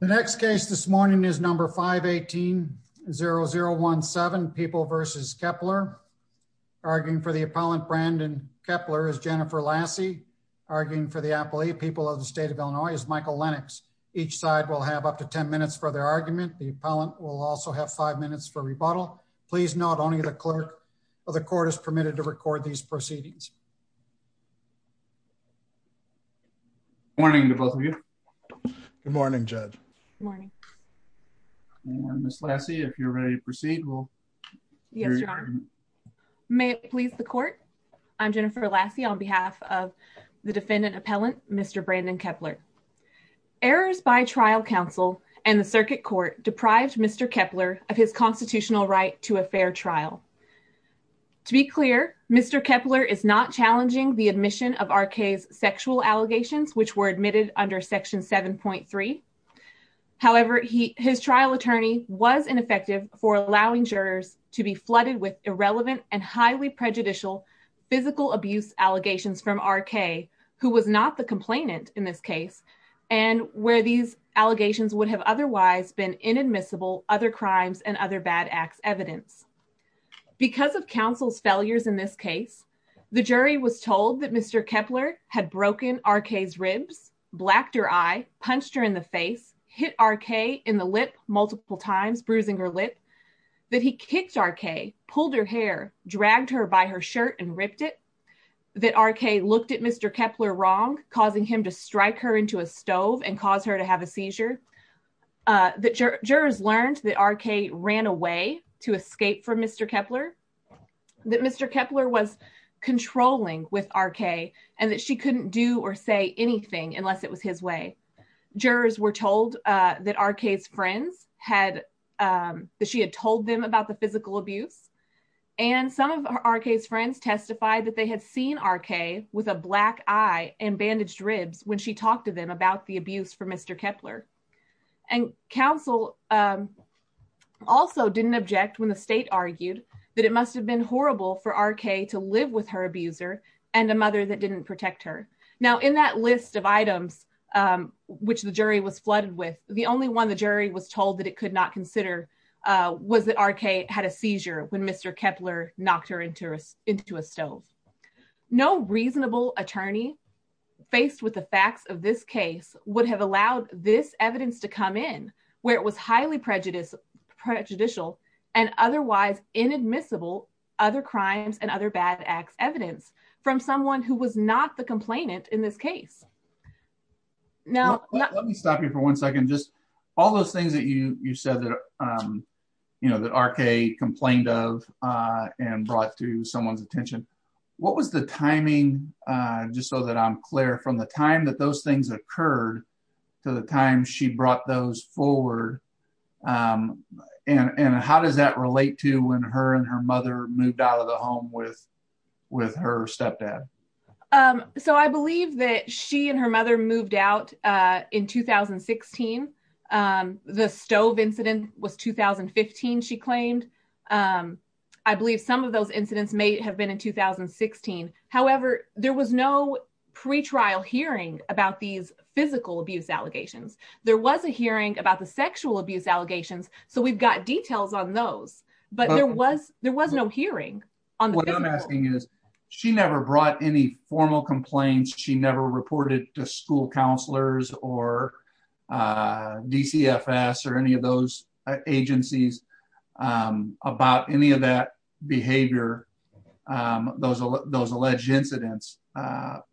The next case this morning is number 5180017, People v. Keppler. Arguing for the appellant, Brandon Keppler, is Jennifer Lassie. Arguing for the appellee, People of the State of Illinois, is Michael Lennox. Each side will have up to 10 minutes for their argument. The appellant will also have 5 minutes for rebuttal. Please note, only the clerk of the court is permitted to record these proceedings. Good morning to both of you. Good morning, Judge. Good morning. Ms. Lassie, if you're ready to proceed, we'll hear your argument. Yes, Your Honor. May it please the court, I'm Jennifer Lassie on behalf of the defendant appellant, Mr. Brandon Keppler. Errors by trial counsel and the circuit court deprived Mr. Keppler of his constitutional right to a fair trial. To be clear, Mr. Keppler is not challenging the admission of R.K.'s sexual allegations, which were admitted under Section 7.3. However, his trial attorney was ineffective for allowing jurors to be flooded with irrelevant and highly prejudicial physical abuse allegations from R.K., who was not the complainant in this case, and where these allegations would have otherwise been inadmissible, other crimes and other bad acts evidence. Because of counsel's failures in this case, the jury was told that Mr. Keppler had broken R.K.'s ribs, blacked her eye, punched her in the face, hit R.K. in the lip multiple times, bruising her lip, that he kicked R.K., pulled her hair, dragged her by her shirt and ripped it, that R.K. looked at Mr. Keppler wrong, causing him to strike her into a stove and cause her to have a seizure, that jurors learned that R.K. ran away to escape from Mr. Keppler, that Mr. Keppler was controlling with R.K., and that she couldn't do or say anything unless it was his way. Jurors were told that R.K.'s friends had, that she had told them about the physical abuse, and some of R.K.'s friends testified that they had seen R.K. with a black eye and bandaged ribs when she talked to them about the abuse for Mr. Keppler. And counsel also didn't object when the state argued that it must have been horrible for R.K. to live with her abuser and a mother that didn't protect her. Now, in that list of items which the jury was flooded with, the only one the jury was told that it could not consider was that R.K. had a seizure when Mr. Keppler knocked her into a stove. No reasonable attorney faced with the facts of this case would have allowed this evidence to come in, where it was highly prejudicial and otherwise inadmissible other crimes and other bad acts evidence from someone who was not the complainant in this case. Let me stop you for one second. All those things that you said that R.K. complained of and brought to someone's attention, what was the timing, just so that I'm clear, from the time that those things occurred to the time she brought those forward? And how does that relate to when her and her mother moved out of the home with her stepdad? So I believe that she and her mother moved out in 2016. The stove incident was 2015, she claimed. I believe some of those incidents may have been in 2016. However, there was no pre-trial hearing about these physical abuse allegations. There was a hearing about the sexual abuse allegations, so we've got details on those, but there was no hearing on the physical. So what I'm asking is, she never brought any formal complaints, she never reported to school counselors or DCFS or any of those agencies about any of that behavior, those alleged incidents,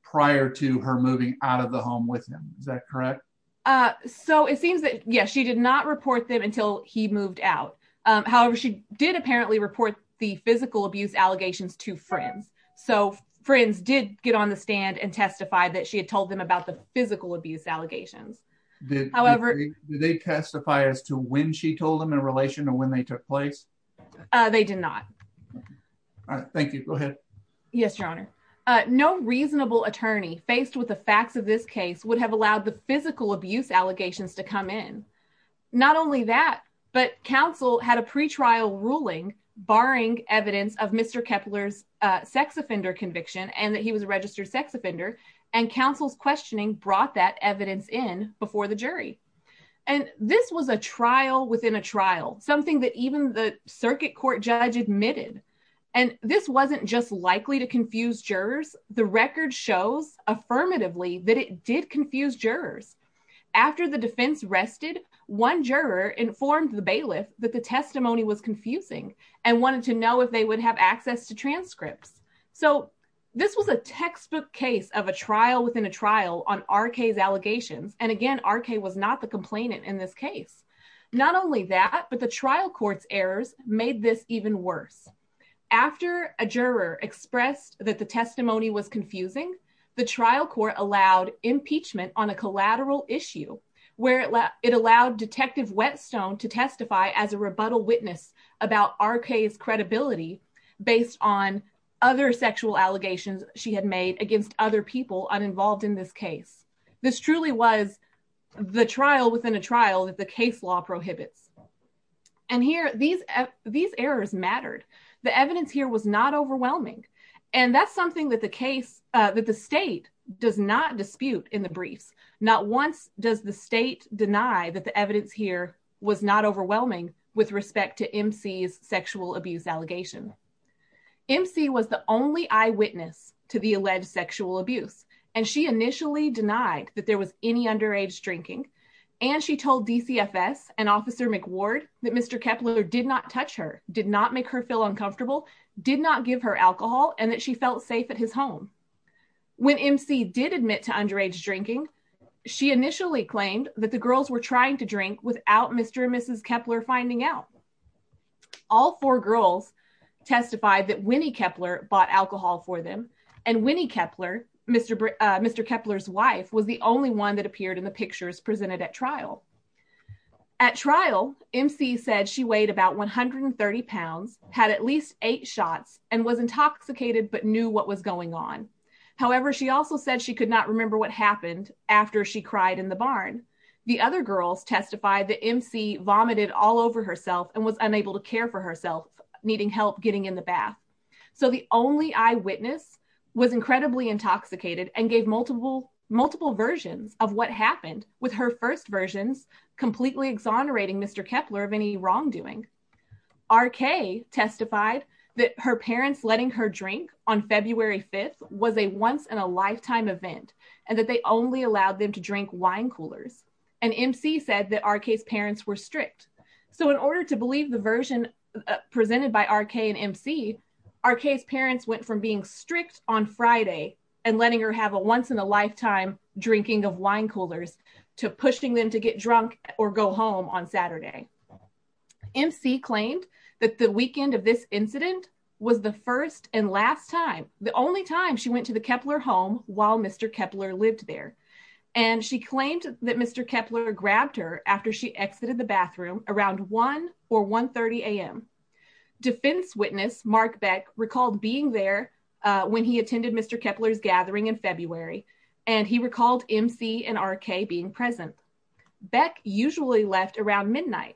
prior to her moving out of the home with him. Is that correct? So it seems that, yes, she did not report them until he moved out. However, she did apparently report the physical abuse allegations to friends. So friends did get on the stand and testify that she had told them about the physical abuse allegations. Did they testify as to when she told them in relation to when they took place? They did not. All right, thank you. Go ahead. Yes, Your Honor. No reasonable attorney faced with the facts of this case would have allowed the physical abuse allegations to come in. Not only that, but counsel had a pre-trial ruling barring evidence of Mr. Kepler's sex offender conviction and that he was a registered sex offender, and counsel's questioning brought that evidence in before the jury. And this was a trial within a trial, something that even the circuit court judge admitted. And this wasn't just likely to confuse jurors. The record shows affirmatively that it did confuse jurors. After the defense rested, one juror informed the bailiff that the testimony was confusing and wanted to know if they would have access to transcripts. So this was a textbook case of a trial within a trial on R.K.'s allegations. And again, R.K. was not the complainant in this case. Not only that, but the trial court's errors made this even worse. After a juror expressed that the testimony was confusing, the trial court allowed impeachment on a collateral issue, where it allowed Detective Whetstone to testify as a rebuttal witness about R.K.'s credibility based on other sexual allegations she had made against other people uninvolved in this case. This truly was the trial within a trial that the case law prohibits. And here, these errors mattered. The evidence here was not overwhelming. And that's something that the state does not dispute in the briefs. Not once does the state deny that the evidence here was not overwhelming with respect to M.C.'s sexual abuse allegation. M.C. was the only eyewitness to the alleged sexual abuse, and she initially denied that there was any underage drinking. And she told DCFS and Officer McWard that Mr. Kepler did not touch her, did not make her feel uncomfortable, did not give her alcohol, and that she felt safe at his home. When M.C. did admit to underage drinking, she initially claimed that the girls were trying to drink without Mr. and Mrs. Kepler finding out. All four girls testified that Winnie Kepler bought alcohol for them, and Winnie Kepler, Mr. Kepler's wife, was the only one that appeared in the pictures presented at trial. At trial, M.C. said she weighed about 130 pounds, had at least eight shots, and was intoxicated but knew what was going on. However, she also said she could not remember what happened after she cried in the barn. The other girls testified that M.C. vomited all over herself and was unable to care for herself, needing help getting in the bath. So the only eyewitness was incredibly intoxicated and gave multiple versions of what happened, with her first versions completely exonerating Mr. Kepler of any wrongdoing. R.K. testified that her parents letting her drink on February 5th was a once-in-a-lifetime event and that they only allowed them to drink wine coolers, and M.C. said that R.K.'s parents were strict. So in order to believe the version presented by R.K. and M.C., R.K.'s parents went from being strict on Friday and letting her have a once-in-a-lifetime drinking of wine coolers to pushing them to get drunk or go home on Saturday. M.C. claimed that the weekend of this incident was the first and last time, the only time, she went to the Kepler home while Mr. Kepler lived there. And she claimed that Mr. Kepler grabbed her after she exited the bathroom around 1 or 1.30 a.m. Defense witness Mark Beck recalled being there when he attended Mr. Kepler's gathering in February, and he recalled M.C. and R.K. being present. Beck usually left around midnight.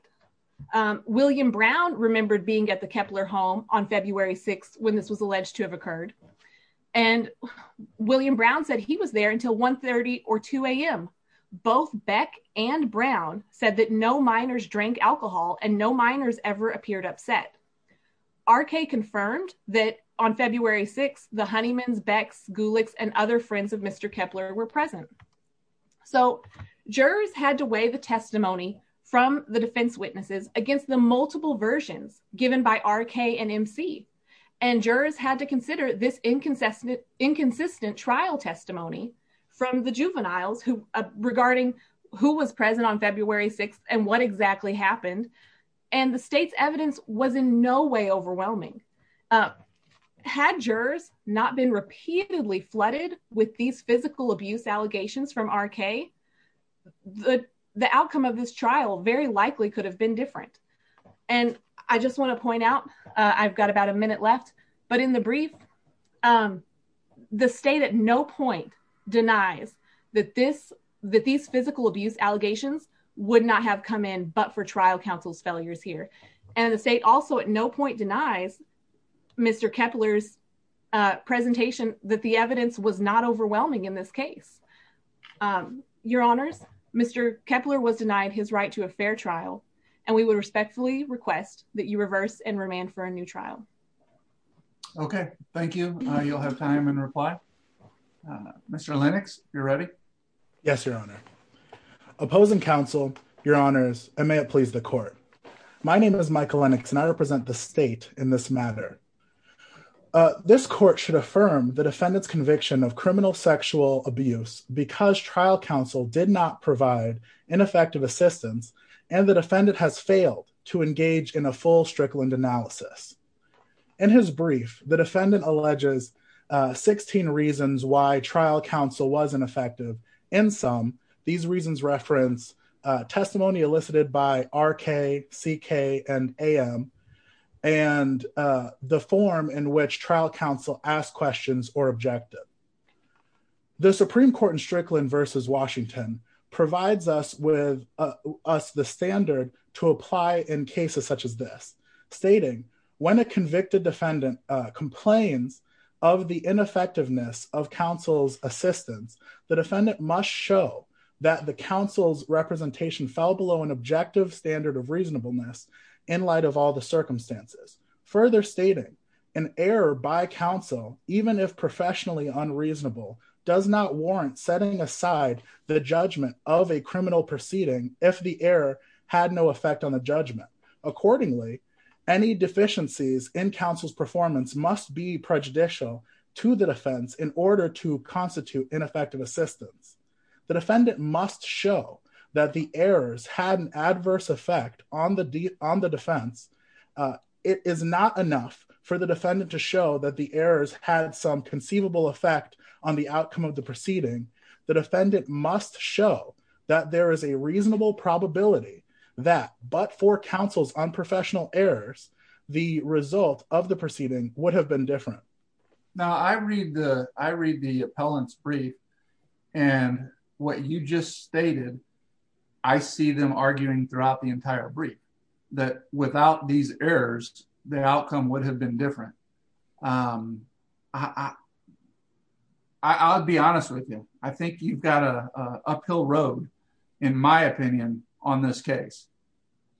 William Brown remembered being at the Kepler home on February 6th when this was alleged to have occurred. And William Brown said he was there until 1.30 or 2 a.m. Both Beck and Brown said that no minors drank alcohol and no minors ever appeared upset. R.K. confirmed that on February 6th, the Honeymans, Becks, Gulicks, and other friends of Mr. Kepler were present. So jurors had to weigh the testimony from the defense witnesses against the multiple versions given by R.K. and M.C. And jurors had to consider this inconsistent trial testimony from the juveniles regarding who was present on February 6th and what exactly happened. And the state's evidence was in no way overwhelming. Had jurors not been repeatedly flooded with these physical abuse allegations from R.K., the outcome of this trial very likely could have been different. And I just want to point out, I've got about a minute left, but in the brief, the state at no point denies that these physical abuse allegations would not have come in but for trial counsel's failures here. And the state also at no point denies Mr. Kepler's presentation that the evidence was not overwhelming in this case. Your Honors, Mr. Kepler was denied his right to a fair trial and we would respectfully request that you reverse and remand for a new trial. Okay, thank you. You'll have time in reply. Mr. Lennox, you're ready. Yes, Your Honor. Opposing counsel, Your Honors, and may it please the court. My name is Michael Lennox and I represent the state in this matter. This court should affirm the defendant's conviction of criminal sexual abuse because trial counsel did not provide ineffective assistance and the defendant has failed to engage in a full Strickland analysis. In his brief, the defendant alleges 16 reasons why trial counsel wasn't effective. In some, these reasons reference testimony elicited by R.K., C.K., and A.M. and the form in which trial counsel asked questions or objected. The Supreme Court in Strickland v. Washington provides us with the standard to apply in cases such as this, stating, When a convicted defendant complains of the ineffectiveness of counsel's assistance, the defendant must show that the counsel's representation fell below an objective standard of reasonableness in light of all the circumstances. Further stating, an error by counsel, even if professionally unreasonable, does not warrant setting aside the judgment of a criminal proceeding if the error had no effect on the judgment. Accordingly, any deficiencies in counsel's performance must be prejudicial to the defense in order to constitute ineffective assistance. The defendant must show that the errors had an adverse effect on the defense. It is not enough for the defendant to show that the errors had some conceivable effect on the outcome of the proceeding. The defendant must show that there is a reasonable probability that, but for counsel's unprofessional errors, the result of the proceeding would have been different. Now I read the appellant's brief and what you just stated, I see them arguing throughout the entire brief that without these errors, the outcome would have been different. I'll be honest with you. I think you've got a uphill road, in my opinion, on this case.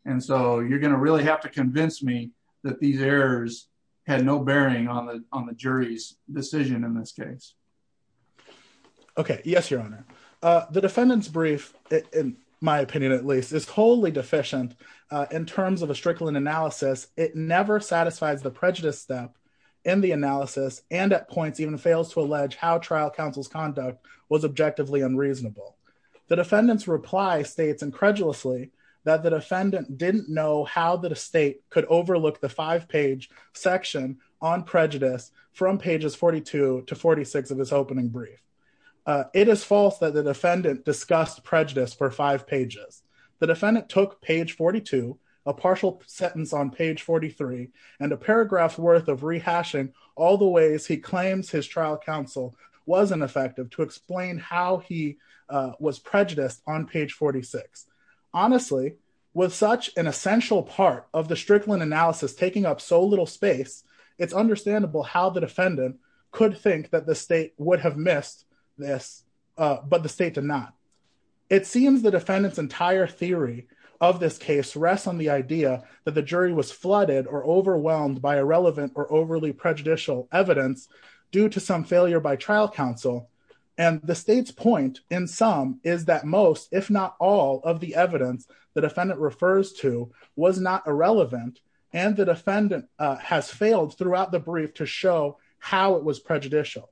And so you're going to really have to convince me that these errors had no bearing on the on the jury's decision in this case. Okay. Yes, Your Honor. The defendant's brief, in my opinion, at least, is wholly deficient in terms of a Strickland analysis. It never satisfies the prejudice step in the analysis and at points even fails to allege how trial counsel's conduct was objectively unreasonable. The defendant's reply states incredulously that the defendant didn't know how the state could overlook the five page section on prejudice from pages 42 to 46 of his opening brief. It is false that the defendant discussed prejudice for five pages. The defendant took page 42, a partial sentence on page 43, and a paragraph worth of rehashing all the ways he claims his trial counsel wasn't effective to explain how he was prejudiced on page 46. Honestly, with such an essential part of the Strickland analysis taking up so little space, it's understandable how the defendant could think that the state would have missed this, but the state did not. It seems the defendant's entire theory of this case rests on the idea that the jury was flooded or overwhelmed by irrelevant or overly prejudicial evidence due to some failure by trial counsel. And the state's point in some is that most, if not all, of the evidence the defendant refers to was not irrelevant, and the defendant has failed throughout the brief to show how it was prejudicial.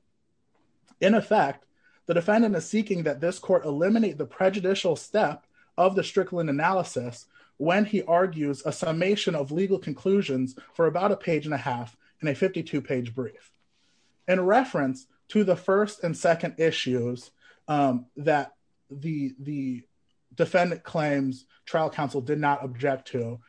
In effect, the defendant is seeking that this court eliminate the prejudicial step of the Strickland analysis when he argues a summation of legal conclusions for about a page and a half and a 52 page brief. In reference to the first and second issues that the defendant claims trial counsel did not object to,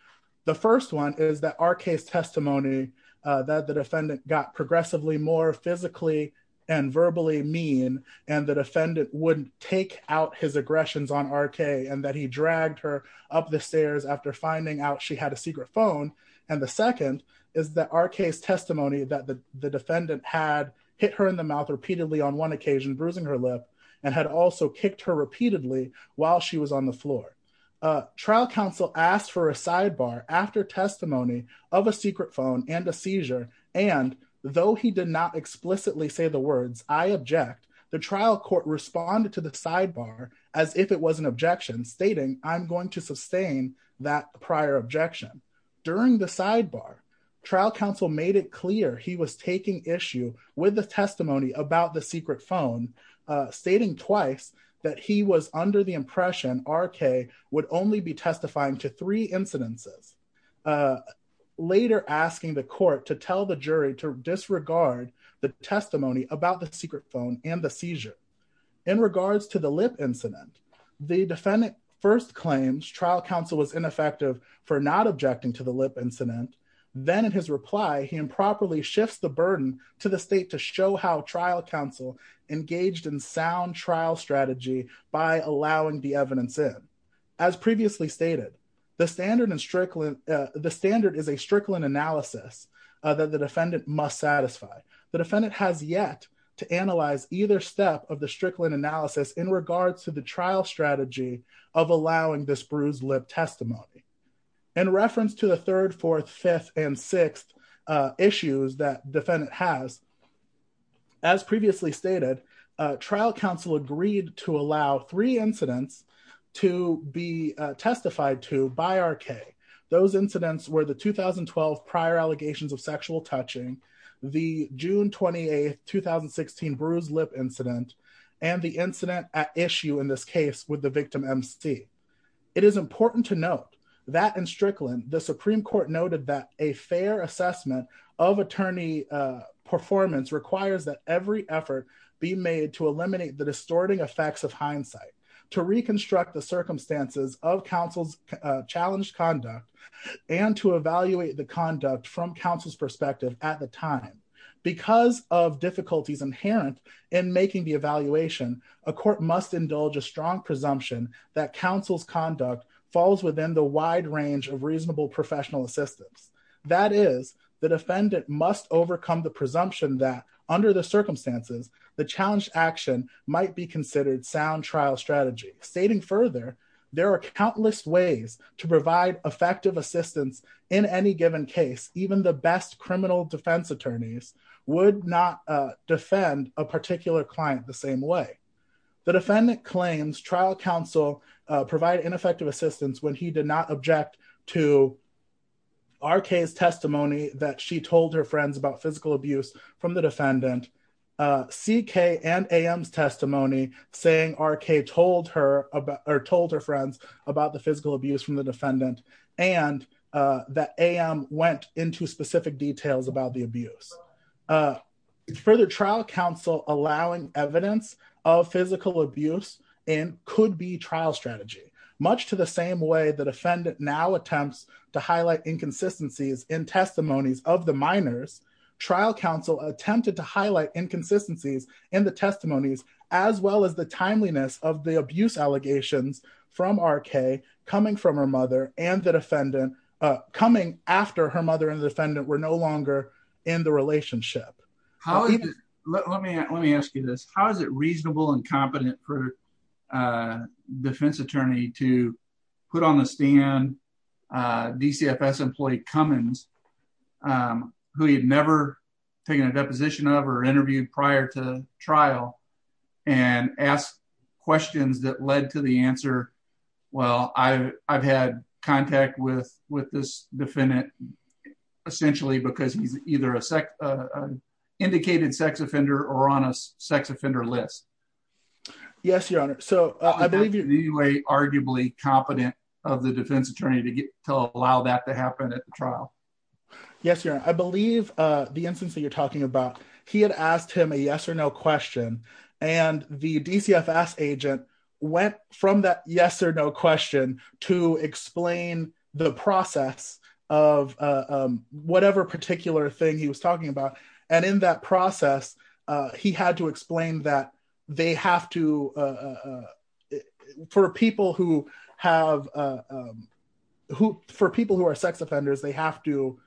the first one is that R.K.'s testimony that the defendant got progressively more physically and verbally mean and the defendant wouldn't take out his aggressions on R.K. And that he dragged her up the stairs after finding out she had a secret phone. And the second is that R.K.'s testimony that the defendant had hit her in the mouth repeatedly on one occasion bruising her lip and had also kicked her repeatedly while she was on the floor. Trial counsel asked for a sidebar after testimony of a secret phone and a seizure, and though he did not explicitly say the words I object, the trial court responded to the sidebar as if it was an objection stating I'm going to sustain that prior objection. During the sidebar, trial counsel made it clear he was taking issue with the testimony about the secret phone, stating twice that he was under the impression R.K. would only be testifying to three incidences. Later asking the court to tell the jury to disregard the testimony about the secret phone and the seizure. In regards to the lip incident, the defendant first claims trial counsel was ineffective for not objecting to the lip incident, then in his reply he improperly shifts the burden to the state to show how trial counsel engaged in sound trial strategy by allowing the evidence in. As previously stated, the standard is a Strickland analysis that the defendant must satisfy. The defendant has yet to analyze either step of the Strickland analysis in regards to the trial strategy of allowing this bruised lip testimony. In reference to the third, fourth, fifth, and sixth issues that defendant has, as previously stated, trial counsel agreed to allow three incidents to be testified to by R.K. Those incidents were the 2012 prior allegations of sexual touching, the June 28, 2016 bruised lip incident, and the incident at issue in this case with the victim M.C. It is important to note that in Strickland, the Supreme Court noted that a fair assessment of attorney performance requires that every effort be made to eliminate the distorting effects of hindsight, to reconstruct the circumstances of counsel's challenged conduct, and to evaluate the conduct from counsel's perspective at the time. Because of difficulties inherent in making the evaluation, a court must indulge a strong presumption that counsel's conduct falls within the wide range of reasonable professional assistance. That is, the defendant must overcome the presumption that, under the circumstances, the challenged action might be considered sound trial strategy. Stating further, there are countless ways to provide effective assistance in any given case. Even the best criminal defense attorneys would not defend a particular client the same way. The defendant claims trial counsel provided ineffective assistance when he did not object to R.K.'s testimony that she told her friends about physical abuse from the defendant. C.K. and A.M.'s testimony saying R.K. told her friends about the physical abuse from the defendant, and that A.M. went into specific details about the abuse. Further, trial counsel allowing evidence of physical abuse could be trial strategy. Much to the same way the defendant now attempts to highlight inconsistencies in testimonies of the minors, trial counsel attempted to highlight inconsistencies in the testimonies, as well as the timeliness of the abuse allegations from R.K. coming from her mother and the defendant, coming after her mother and the defendant were no longer in the relationship. Let me ask you this. How is it reasonable and competent for a defense attorney to put on the stand DCFS employee Cummins, who he had never taken a deposition of or interviewed prior to trial, and ask questions that led to the answer, well, I've had contact with this defendant, essentially because he's either a second degree sex offender or on a sex offender list? Yes, Your Honor. So I believe you're Arguably competent of the defense attorney to allow that to happen at the trial. Yes, Your Honor. I believe the instance that you're talking about, he had asked him a yes or no question, and the DCFS agent went from that yes or no question to explain the process of whatever particular thing he was talking about. And in that process, he had to explain that they have to, for people who have, for people who are sex offenders, they have to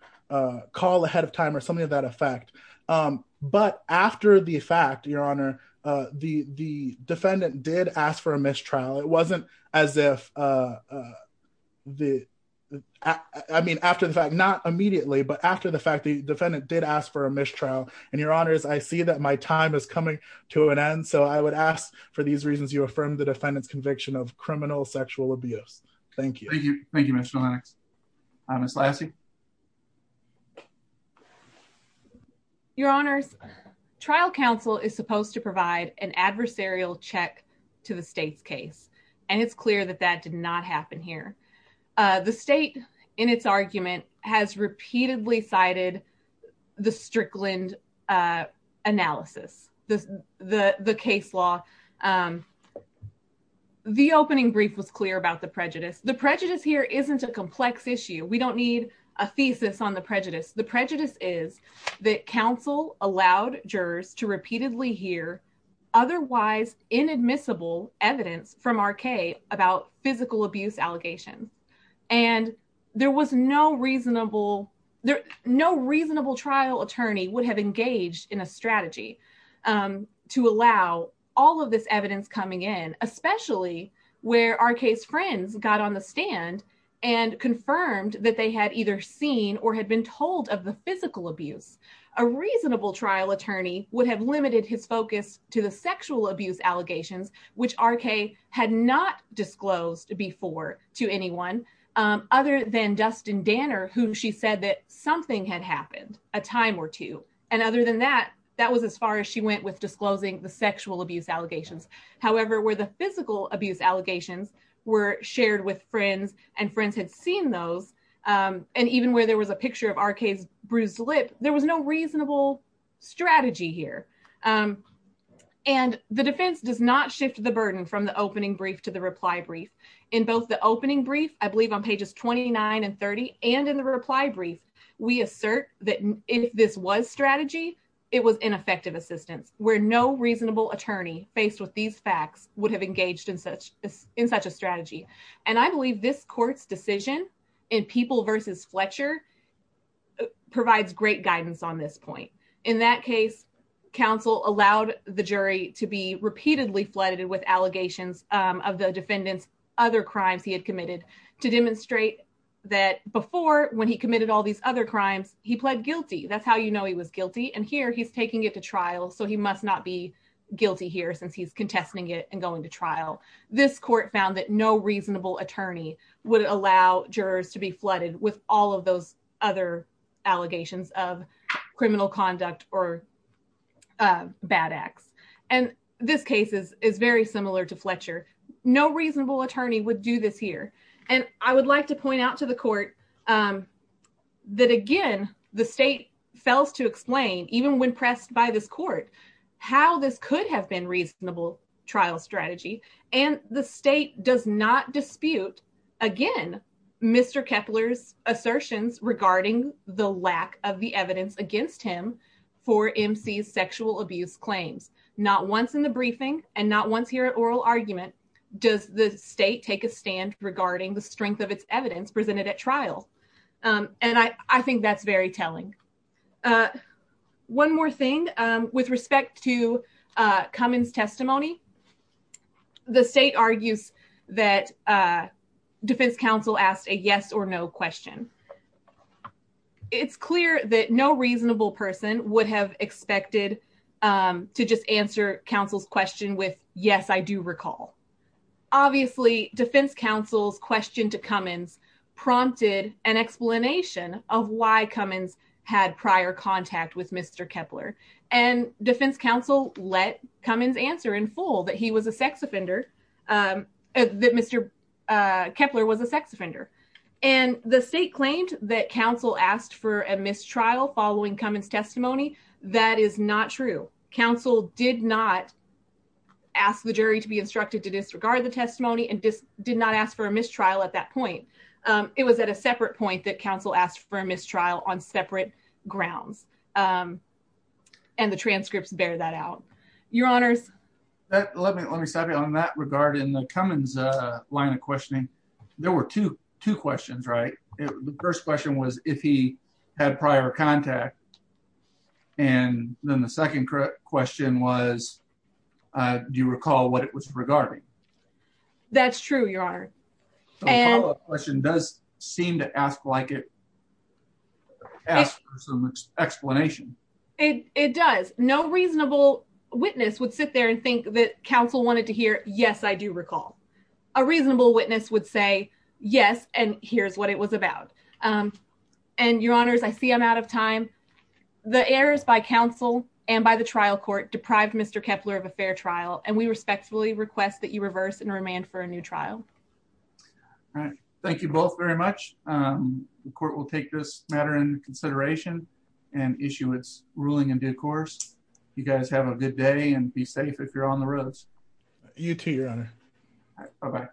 call ahead of time or something of that effect. But after the fact, Your Honor, the defendant did ask for a mistrial. It wasn't as if the, I mean, after the fact, not immediately, but after the fact, the defendant did ask for a mistrial. And Your Honors, I see that my time is coming to an end. So I would ask for these reasons you affirm the defendant's conviction of criminal sexual abuse. Thank you. Thank you, Mr. Lennox. Ms. Lassie? Your Honors, trial counsel is supposed to provide an adversarial check to the state's case. And it's clear that that did not happen here. The state, in its argument, has repeatedly cited the Strickland analysis, the case law. The opening brief was clear about the prejudice. The prejudice here isn't a complex issue. We don't need a thesis on the prejudice. The prejudice is that counsel allowed jurors to repeatedly hear otherwise inadmissible evidence from R.K. about physical abuse allegations. And there was no reasonable, no reasonable trial attorney would have engaged in a strategy to allow all of this evidence coming in, especially where R.K.'s friends got on the stand and confirmed that they had either seen or had been told of the physical abuse. A reasonable trial attorney would have limited his focus to the sexual abuse allegations, which R.K. had not disclosed before to anyone other than Dustin Danner, whom she said that something had happened a time or two. And other than that, that was as far as she went with disclosing the sexual abuse allegations. However, where the physical abuse allegations were shared with friends and friends had seen those, and even where there was a picture of R.K.'s bruised lip, there was no reasonable strategy here. And the defense does not shift the burden from the opening brief to the reply brief. In both the opening brief, I believe on pages 29 and 30, and in the reply brief, we assert that if this was strategy, it was ineffective assistance, where no reasonable attorney faced with these facts would have engaged in such a strategy. And I believe this court's decision in People v. Fletcher provides great guidance on this point. In that case, counsel allowed the jury to be repeatedly flooded with allegations of the defendant's other crimes he had committed to demonstrate that before, when he committed all these other crimes, he pled guilty. That's how you know he was guilty. And here, he's taking it to trial, so he must not be guilty here since he's contesting it and going to trial. This court found that no reasonable attorney would allow jurors to be flooded with all of those other allegations of criminal conduct or bad acts. And this case is very similar to Fletcher. No reasonable attorney would do this here. And I would like to point out to the court that, again, the state fails to explain, even when pressed by this court, how this could have been reasonable trial strategy. And the state does not dispute, again, Mr. Kepler's assertions regarding the lack of the evidence against him for MC's sexual abuse claims. Not once in the briefing, and not once here at oral argument, does the state take a stand regarding the strength of its evidence presented at trial. And I think that's very telling. One more thing with respect to Cummins' testimony. The state argues that defense counsel asked a yes or no question. It's clear that no reasonable person would have expected to just answer counsel's question with, yes, I do recall. Obviously, defense counsel's question to Cummins prompted an explanation of why Cummins had prior contact with Mr. Kepler. And defense counsel let Cummins answer in full that he was a sex offender, that Mr. Kepler was a sex offender. And the state claimed that counsel asked for a mistrial following Cummins' testimony. That is not true. Counsel did not ask the jury to be instructed to disregard the testimony and did not ask for a mistrial at that point. It was at a separate point that counsel asked for a mistrial on separate grounds. And the transcripts bear that out. Your Honors. Let me stop you on that regard. In the Cummins line of questioning, there were two questions, right? The first question was if he had prior contact. And then the second question was, do you recall what it was regarding? That's true, Your Honor. The follow-up question does seem to ask for some explanation. It does. No reasonable witness would sit there and think that counsel wanted to hear, yes, I do recall. A reasonable witness would say, yes, and here's what it was about. And, Your Honors, I see I'm out of time. The errors by counsel and by the trial court deprived Mr. Kepler of a fair trial, and we respectfully request that you reverse and remand for a new trial. All right. Thank you both very much. The court will take this matter into consideration and issue its ruling in due course. You guys have a good day and be safe if you're on the roads. You too, Your Honor. Bye-bye.